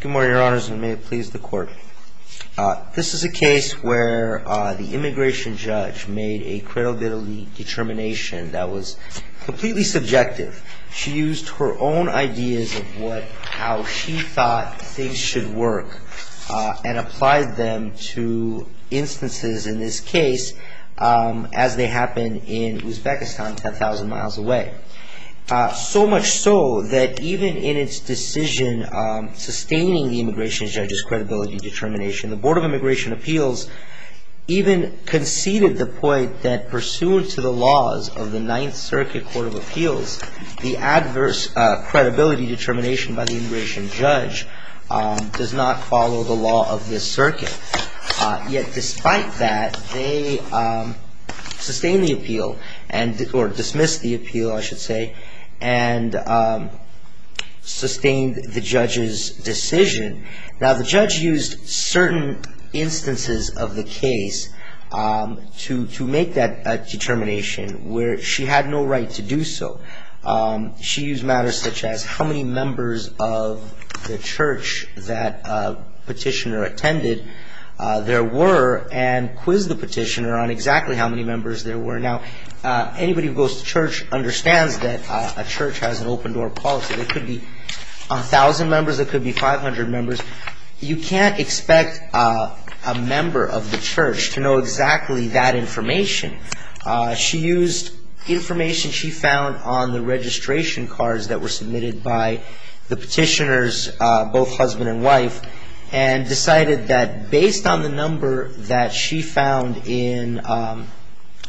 Good morning, Your Honors, and may it please the Court. This is a case where the immigration judge made a credibility determination that was completely subjective. She used her own ideas of how she thought things should work and applied them to instances in this case as they happened in Uzbekistan, 10,000 miles away. So much so that even in its decision sustaining the immigration judge's credibility determination, the Board of Immigration Appeals even conceded the point that pursuant to the laws of the Ninth Circuit Court of Appeals, the adverse credibility determination by the immigration judge does not follow the law of this circuit. Yet despite that, they sustained the appeal, or dismissed the appeal I should say, and sustained the judge's decision. Now the judge used certain instances of the case to make that determination where she had no right to do so. She used matters such as how many members of the church that petitioner attended there were and quizzed the petitioner on exactly how many members there were. Now anybody who goes to church understands that a church has an open door policy. There could be 1,000 members, there could be 500 members. You can't expect a member of the church to know exactly that information. She used information she found on the registration cards that were submitted by the petitioners, both husband and wife, and decided that based on the number that she found in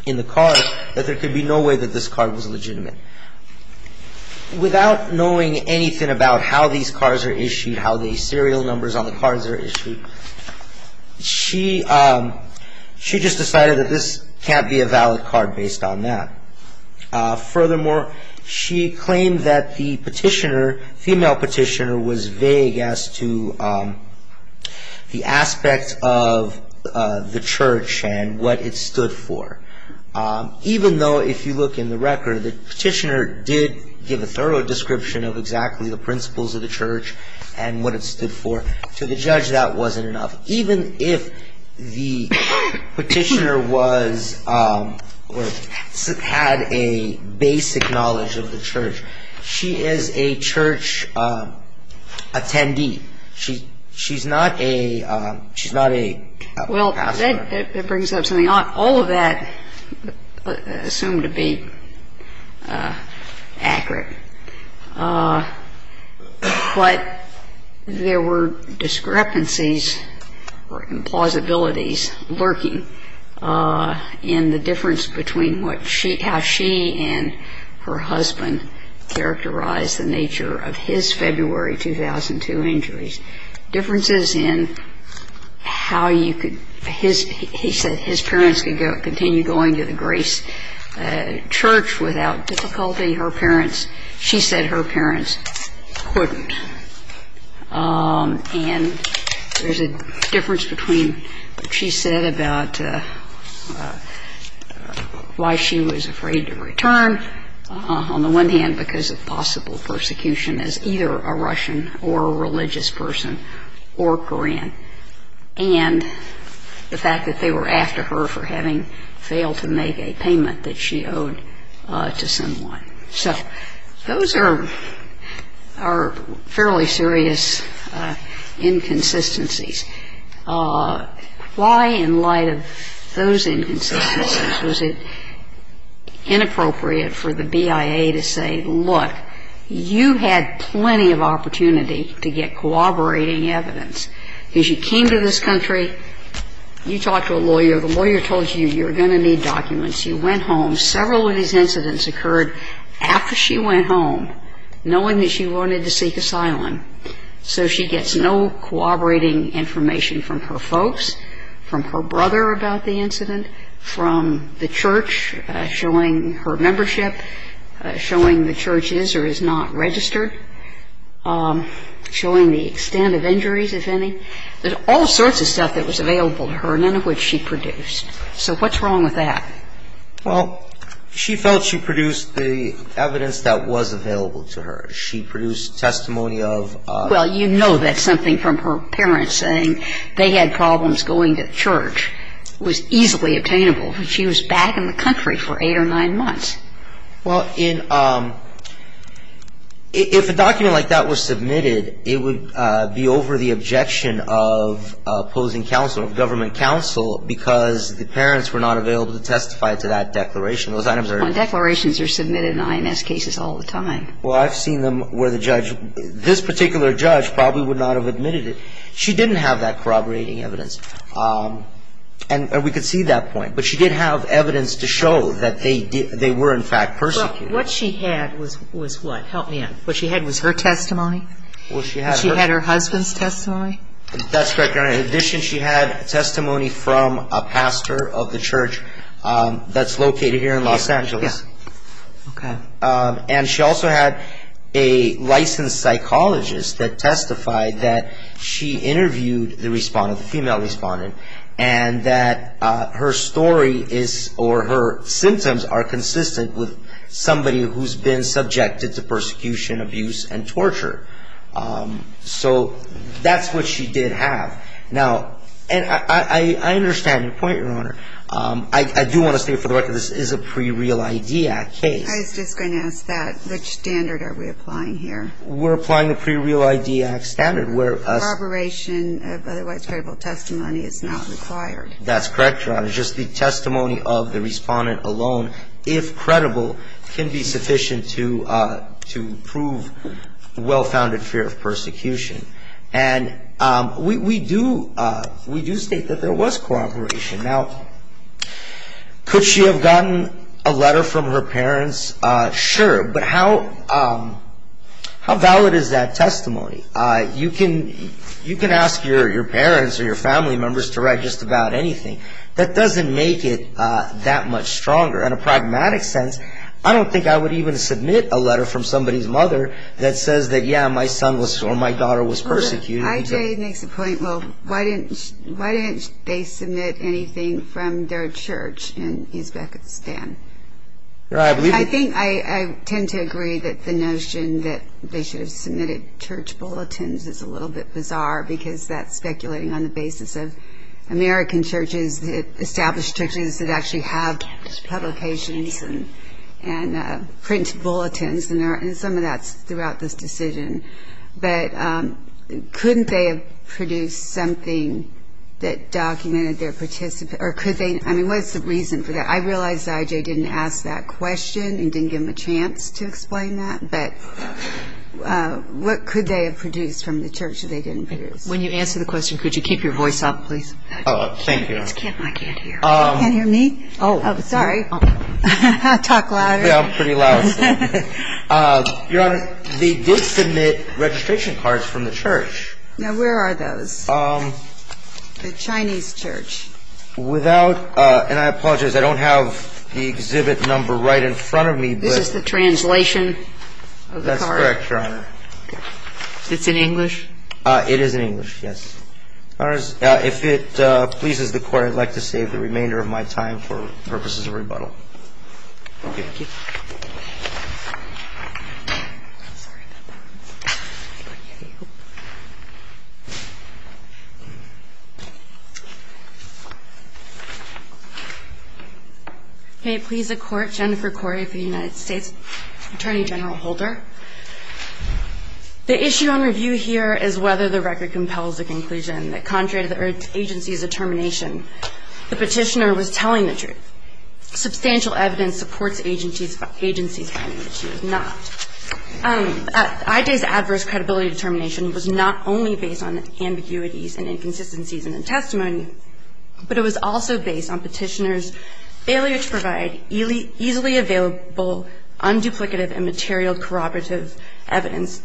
the card that there could be no way that this card was legitimate. Without knowing anything about how these cards are issued, how the serial numbers on the cards are issued, she just decided that this can't be a valid card based on that. Furthermore, she claimed that the petitioner, female petitioner, was vague as to the aspect of the church and what it stood for. Even though, if you look in the record, the petitioner did give a thorough description of exactly the principles of the church and what it stood for. To the judge, that wasn't enough. Even if the petitioner was or had a basic knowledge of the church, she is a church attendee. She's not a pastor. That brings up something. All of that assumed to be accurate. But there were discrepancies or implausibilities lurking in the difference between how she and her husband characterized the nature of his February 2002 injuries, differences in how you could, he said his parents could continue going to the Grace Church without difficulty. Her parents, she said her parents couldn't. And there's a difference between what she said about why she was afraid to return, on the one hand, because of possible persecution as either a Russian or a religious person. Or Korean. And the fact that they were after her for having failed to make a payment that she owed to someone. So those are fairly serious inconsistencies. Why, in light of those inconsistencies, was it inappropriate for the BIA to say, look, you had plenty of opportunity to get corroborated with the church. Because you came to this country. You talked to a lawyer. The lawyer told you, you're going to need documents. You went home. Several of these incidents occurred after she went home, knowing that she wanted to seek asylum. So she gets no corroborating information from her folks, from her brother about the incident, from the church, showing her membership, showing the church is or is not registered, showing the extent of injuries, if any. There's all sorts of stuff that was available to her, none of which she produced. So what's wrong with that? Well, she felt she produced the evidence that was available to her. She produced testimony of ‑‑ Well, you know that something from her parents saying they had problems going to church was easily obtainable. She was back in the country for eight or nine months. Well, in ‑‑ if a document like that was submitted, it would be over the objection of opposing counsel, of government counsel, because the parents were not available to testify to that declaration. Those items are ‑‑ Well, declarations are submitted in INS cases all the time. Well, I've seen them where the judge ‑‑ this particular judge probably would not have admitted it. She didn't have that corroborating evidence. And we could see that point. But she did have evidence to show that they were, in fact, persecuted. What she had was what? Help me out. What she had was her testimony? Well, she had her ‑‑ She had her husband's testimony? That's correct, Your Honor. In addition, she had testimony from a pastor of the church that's located here in Los Angeles. Okay. And she also had a licensed psychologist that testified that she interviewed the respondent, the female respondent, and that her story is ‑‑ or her symptoms are consistent with somebody who's been subjected to persecution, abuse, and torture. So that's what she did have. Now, and I understand your point, Your Honor. I do want to state for the record this is a pre‑Real ID Act case. I was just going to ask that. Which standard are we applying here? We're applying a pre‑Real ID Act standard where ‑‑ Corroboration of otherwise credible testimony is not required. That's correct, Your Honor. Just the testimony of the respondent alone, if credible, can be sufficient to prove well‑founded fear of persecution. And we do ‑‑ we do state that there was cooperation. Now, could she have gotten a letter from her parents? Sure, but how valid is that testimony? You can ask your parents or your family members to write just about anything. That doesn't make it that much stronger. In a pragmatic sense, I don't think I would even submit a letter from somebody's mother that says that, yeah, my son or my daughter was persecuted. I.J. makes a point, well, why didn't they submit anything from their church in Uzbekistan? I think I tend to agree that the notion that they should have submitted church bulletins is a little bit bizarre, because that's speculating on the basis of American churches, established churches that actually have publications and print bulletins, and some of that's throughout this decision. But couldn't they have produced something that documented their participation? I mean, what's the reason for that? I realize that I.J. didn't ask that question and didn't give him a chance to explain that, but what could they have produced from the church that they didn't produce? When you answer the question, could you keep your voice up, please? Oh, thank you. I can't hear. You can't hear me? Oh. Oh, sorry. Talk louder. Yeah, I'm pretty loud. Your Honor, they did submit registration cards from the church. Now, where are those? The Chinese church. Without, and I apologize, I don't have the exhibit number right in front of me. This is the translation of the card? That's correct, Your Honor. It's in English? It is in English, yes. If it pleases the Court, I'd like to save the remainder of my time for purposes of rebuttal. Okay. Thank you. I'm sorry about that. I couldn't hear you. May it please the Court, Jennifer Corey for the United States, Attorney General Holder. The issue on review here is whether the record compels the conclusion that contrary to the agency's determination, the petitioner was telling the truth. Substantial evidence supports agency's finding that she was not. IJ's adverse credibility determination was not only based on ambiguities and inconsistencies in the testimony, but it was also based on petitioner's failure to provide easily available, unduplicative, and material corroborative evidence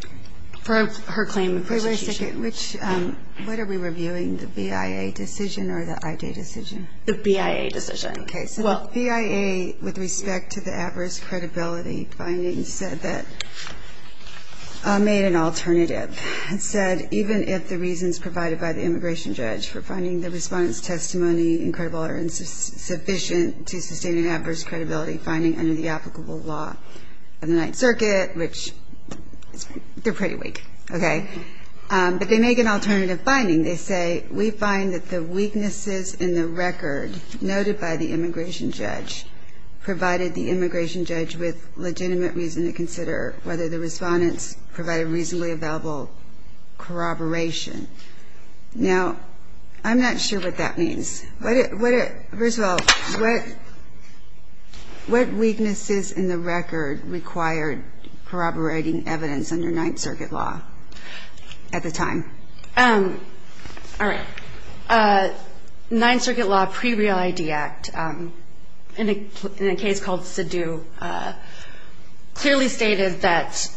for her claim in question. Wait a second. What are we reviewing, the BIA decision or the IJ decision? The BIA decision. Okay. So the BIA, with respect to the adverse credibility findings, said that, made an alternative. It said, even if the reasons provided by the immigration judge for finding the respondent's testimony incredible or insufficient to sustain an adverse credibility finding under the applicable law of the Ninth Circuit, which they're pretty weak, okay, but they make an alternative finding. They say, we find that the weaknesses in the record noted by the immigration judge provided the immigration judge with legitimate reason to consider whether the respondents provided reasonably available corroboration. Now, I'm not sure what that means. First of all, what weaknesses in the record required corroborating evidence under Ninth Circuit law at the time? All right. Ninth Circuit law pre-Real ID Act, in a case called Siddu, clearly stated that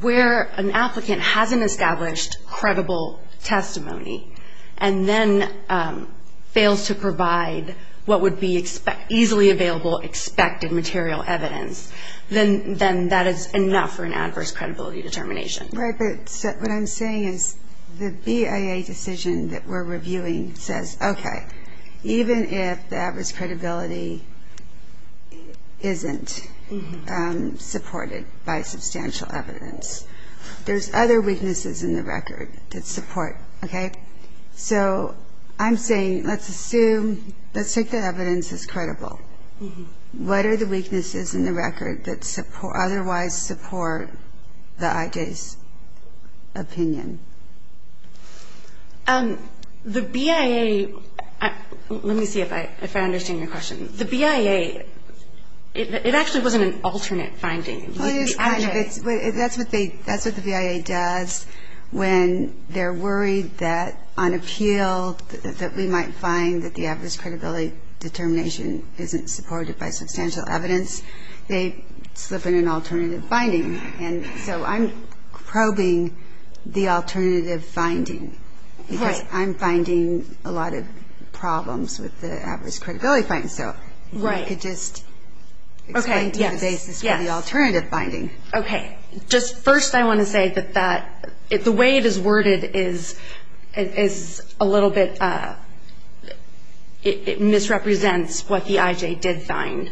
where an applicant hasn't established credible testimony and then fails to provide what would be easily available expected material evidence, then that is enough for an adverse credibility determination. Right. But what I'm saying is the BIA decision that we're reviewing says, okay, even if the adverse credibility isn't supported by substantial evidence, there's other weaknesses in the record that support, okay? So I'm saying let's assume, let's take the evidence as credible. What are the weaknesses in the record that otherwise support the IJ's opinion? The BIA, let me see if I understand your question. The BIA, it actually wasn't an alternate finding. Well, it is kind of. That's what the BIA does when they're worried that on appeal, that we might find that the adverse credibility determination isn't supported by substantial evidence. They slip in an alternative finding. And so I'm probing the alternative finding because I'm finding a lot of problems with the adverse credibility finding. Right. If I could just explain to you the basis for the alternative finding. Okay. Just first I want to say that the way it is worded is a little bit, it misrepresents what the IJ did find.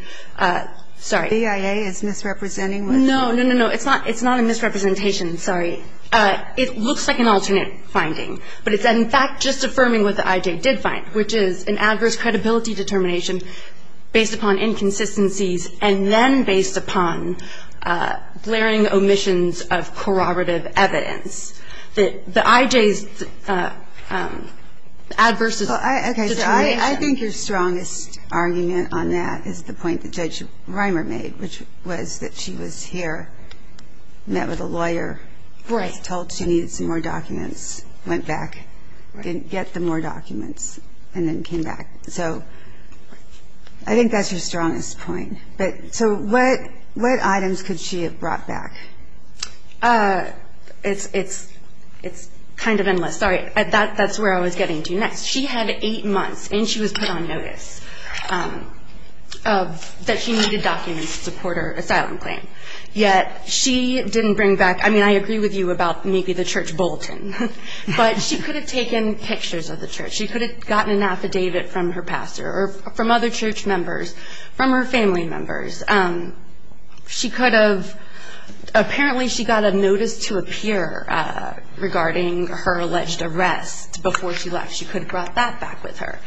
Sorry. The BIA is misrepresenting? No, no, no, no. It's not a misrepresentation. Sorry. It looks like an alternate finding, but it's in fact just affirming what the IJ did find, which is an adverse credibility determination based upon inconsistencies and then based upon glaring omissions of corroborative evidence. The IJ's adverse determination. Okay. So I think your strongest argument on that is the point that Judge Reimer made, which was that she was here, met with a lawyer, told she needed some more documents, went back, didn't get the more documents, and then came back. So I think that's your strongest point. So what items could she have brought back? It's kind of endless. Sorry. That's where I was getting to next. She had eight months, and she was put on notice that she needed documents to support her asylum claim. Yet she didn't bring back ñ I mean, I agree with you about maybe the church bulletin, but she could have taken pictures of the church. She could have gotten an affidavit from her pastor or from other church members, from her family members. She could have ñ apparently she got a notice to appear regarding her alleged arrest before she left. She could have brought that back with her.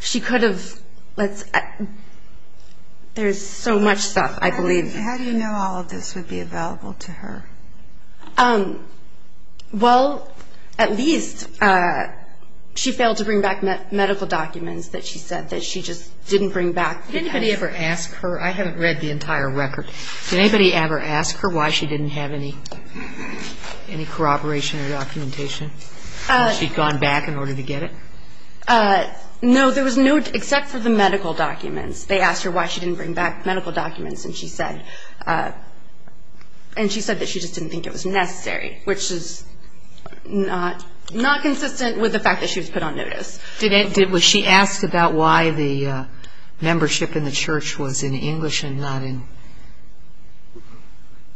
She could have ñ there's so much stuff, I believe. How do you know all of this would be available to her? Well, at least she failed to bring back medical documents that she said that she just didn't bring back. Did anybody ever ask her? I haven't read the entire record. Did anybody ever ask her why she didn't have any corroboration or documentation? Had she gone back in order to get it? No, there was no ñ except for the medical documents. They asked her why she didn't bring back medical documents, and she said that she just didn't think it was necessary, which is not consistent with the fact that she was put on notice. Was she asked about why the membership in the church was in English and not in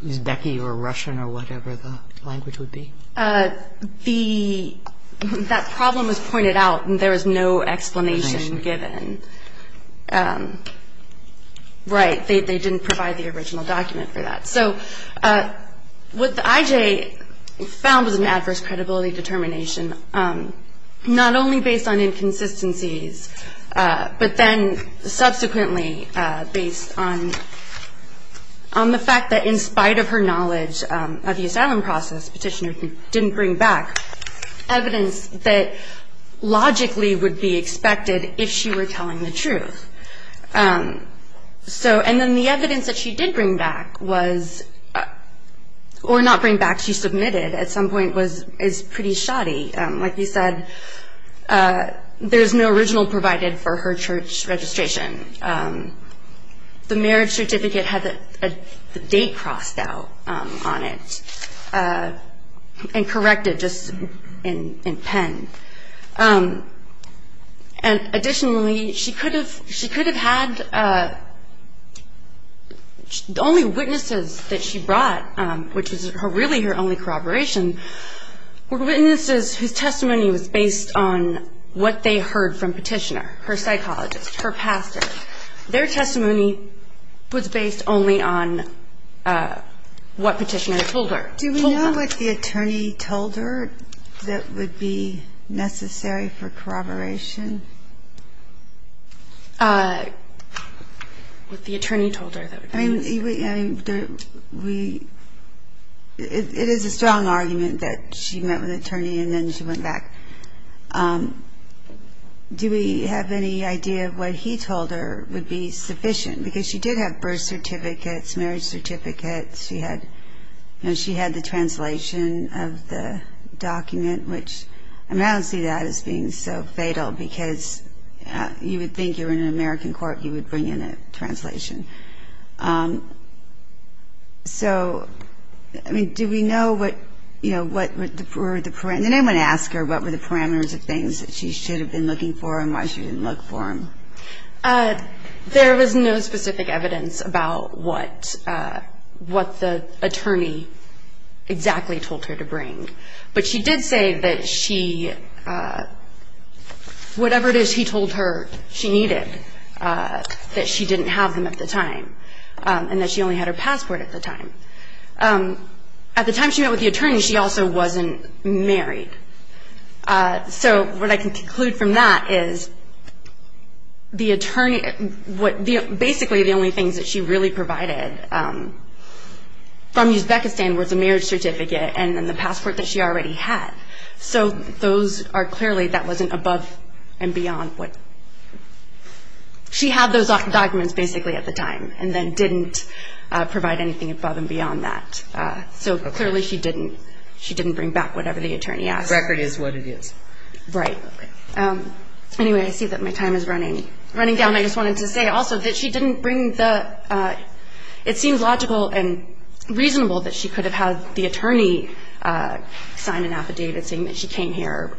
Uzbek or Russian or whatever the language would be? The ñ that problem was pointed out, and there was no explanation given. Right, they didn't provide the original document for that. So what the IJ found was an adverse credibility determination, not only based on inconsistencies, but then subsequently based on the fact that in spite of her knowledge of the asylum process, Petitioner didn't bring back evidence that logically would be expected if she were telling the truth. So ñ and then the evidence that she did bring back was ñ or not bring back, she submitted at some point was ñ is pretty shoddy. Like you said, there's no original provided for her church registration. The marriage certificate had the date crossed out on it and corrected just in pen. And additionally, she could have ñ she could have had ñ the only witnesses that she brought, which was really her only corroboration, were witnesses whose testimony was based on what they heard from Petitioner, her psychologist, her pastor. Their testimony was based only on what Petitioner told her. Do we know what the attorney told her that would be necessary for corroboration? I mean, we ñ it is a strong argument that she met with an attorney and then she went back. Do we have any idea of what he told her would be sufficient? Because she did have birth certificates, marriage certificates. She had ñ you know, she had the translation of the document, which ñ I mean, I don't see that as being so fatal because you would think you were in an American court, you would bring in a translation. So, I mean, do we know what, you know, what were the ñ did anyone ask her what were the parameters of things that she should have been looking for and why she didn't look for them? There was no specific evidence about what the attorney exactly told her to bring. But she did say that she ñ whatever it is he told her she needed, that she didn't have them at the time and that she only had her passport at the time. At the time she met with the attorney, she also wasn't married. So what I can conclude from that is the attorney ñ basically the only things that she really provided from Uzbekistan was a marriage certificate and then the passport that she already had. So those are clearly ñ that wasn't above and beyond what ñ she had those documents basically at the time and then didn't provide anything above and beyond that. So clearly she didn't ñ she didn't bring back whatever the attorney asked. The record is what it is. Right. Anyway, I see that my time is running down. I just wanted to say also that she didn't bring the ñ it seems logical and reasonable that she could have had the attorney sign an affidavit saying that she came here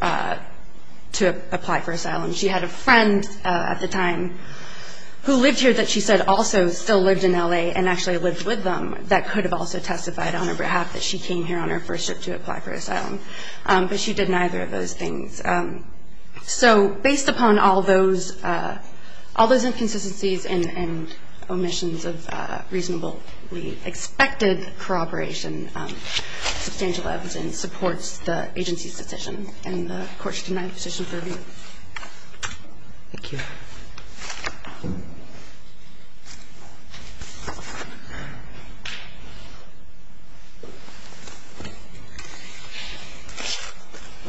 to apply for asylum. She had a friend at the time who lived here that she said also still lived in L.A. and actually lived with them that could have also testified on her behalf that she came here on her first trip to apply for asylum. But she did neither of those things. So based upon all those ñ all those inconsistencies and omissions of reasonably expected corroboration, substantial evidence supports the agency's decision and the Court's denied position for review. Thank you.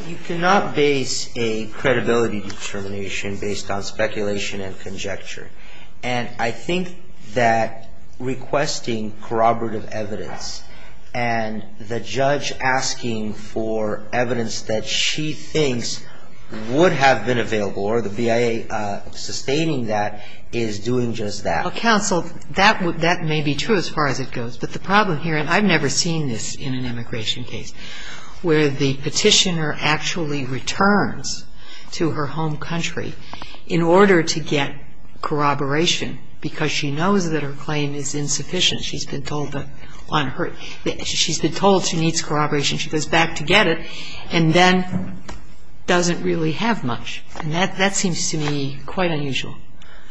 You cannot base a credibility determination based on speculation and conjecture. And I think that requesting corroborative evidence and the judge asking for evidence that she thinks would have been available is doing just that. Counsel, that may be true as far as it goes. But the problem here, and I've never seen this in an immigration case, where the petitioner actually returns to her home country in order to get corroboration because she knows that her claim is insufficient. She's been told that on her ñ she's been told she needs corroboration. She goes back to get it and then doesn't really have much. And that seems to me quite unusual.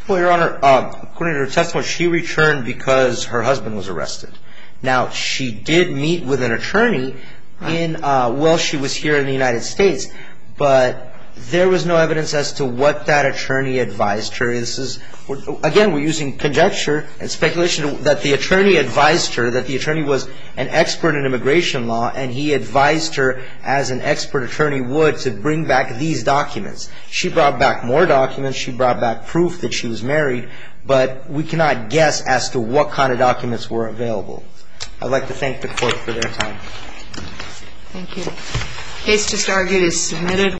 Well, Your Honor, according to her testimony, she returned because her husband was arrested. Now, she did meet with an attorney while she was here in the United States, but there was no evidence as to what that attorney advised her. This is ñ again, we're using conjecture and speculation that the attorney advised her, that the attorney was an expert in immigration law and he advised her as an expert attorney would to bring back these documents. She brought back more documents. She brought back proof that she was married. But we cannot guess as to what kind of documents were available. I'd like to thank the Court for their time. Thank you. The case just argued is submitted.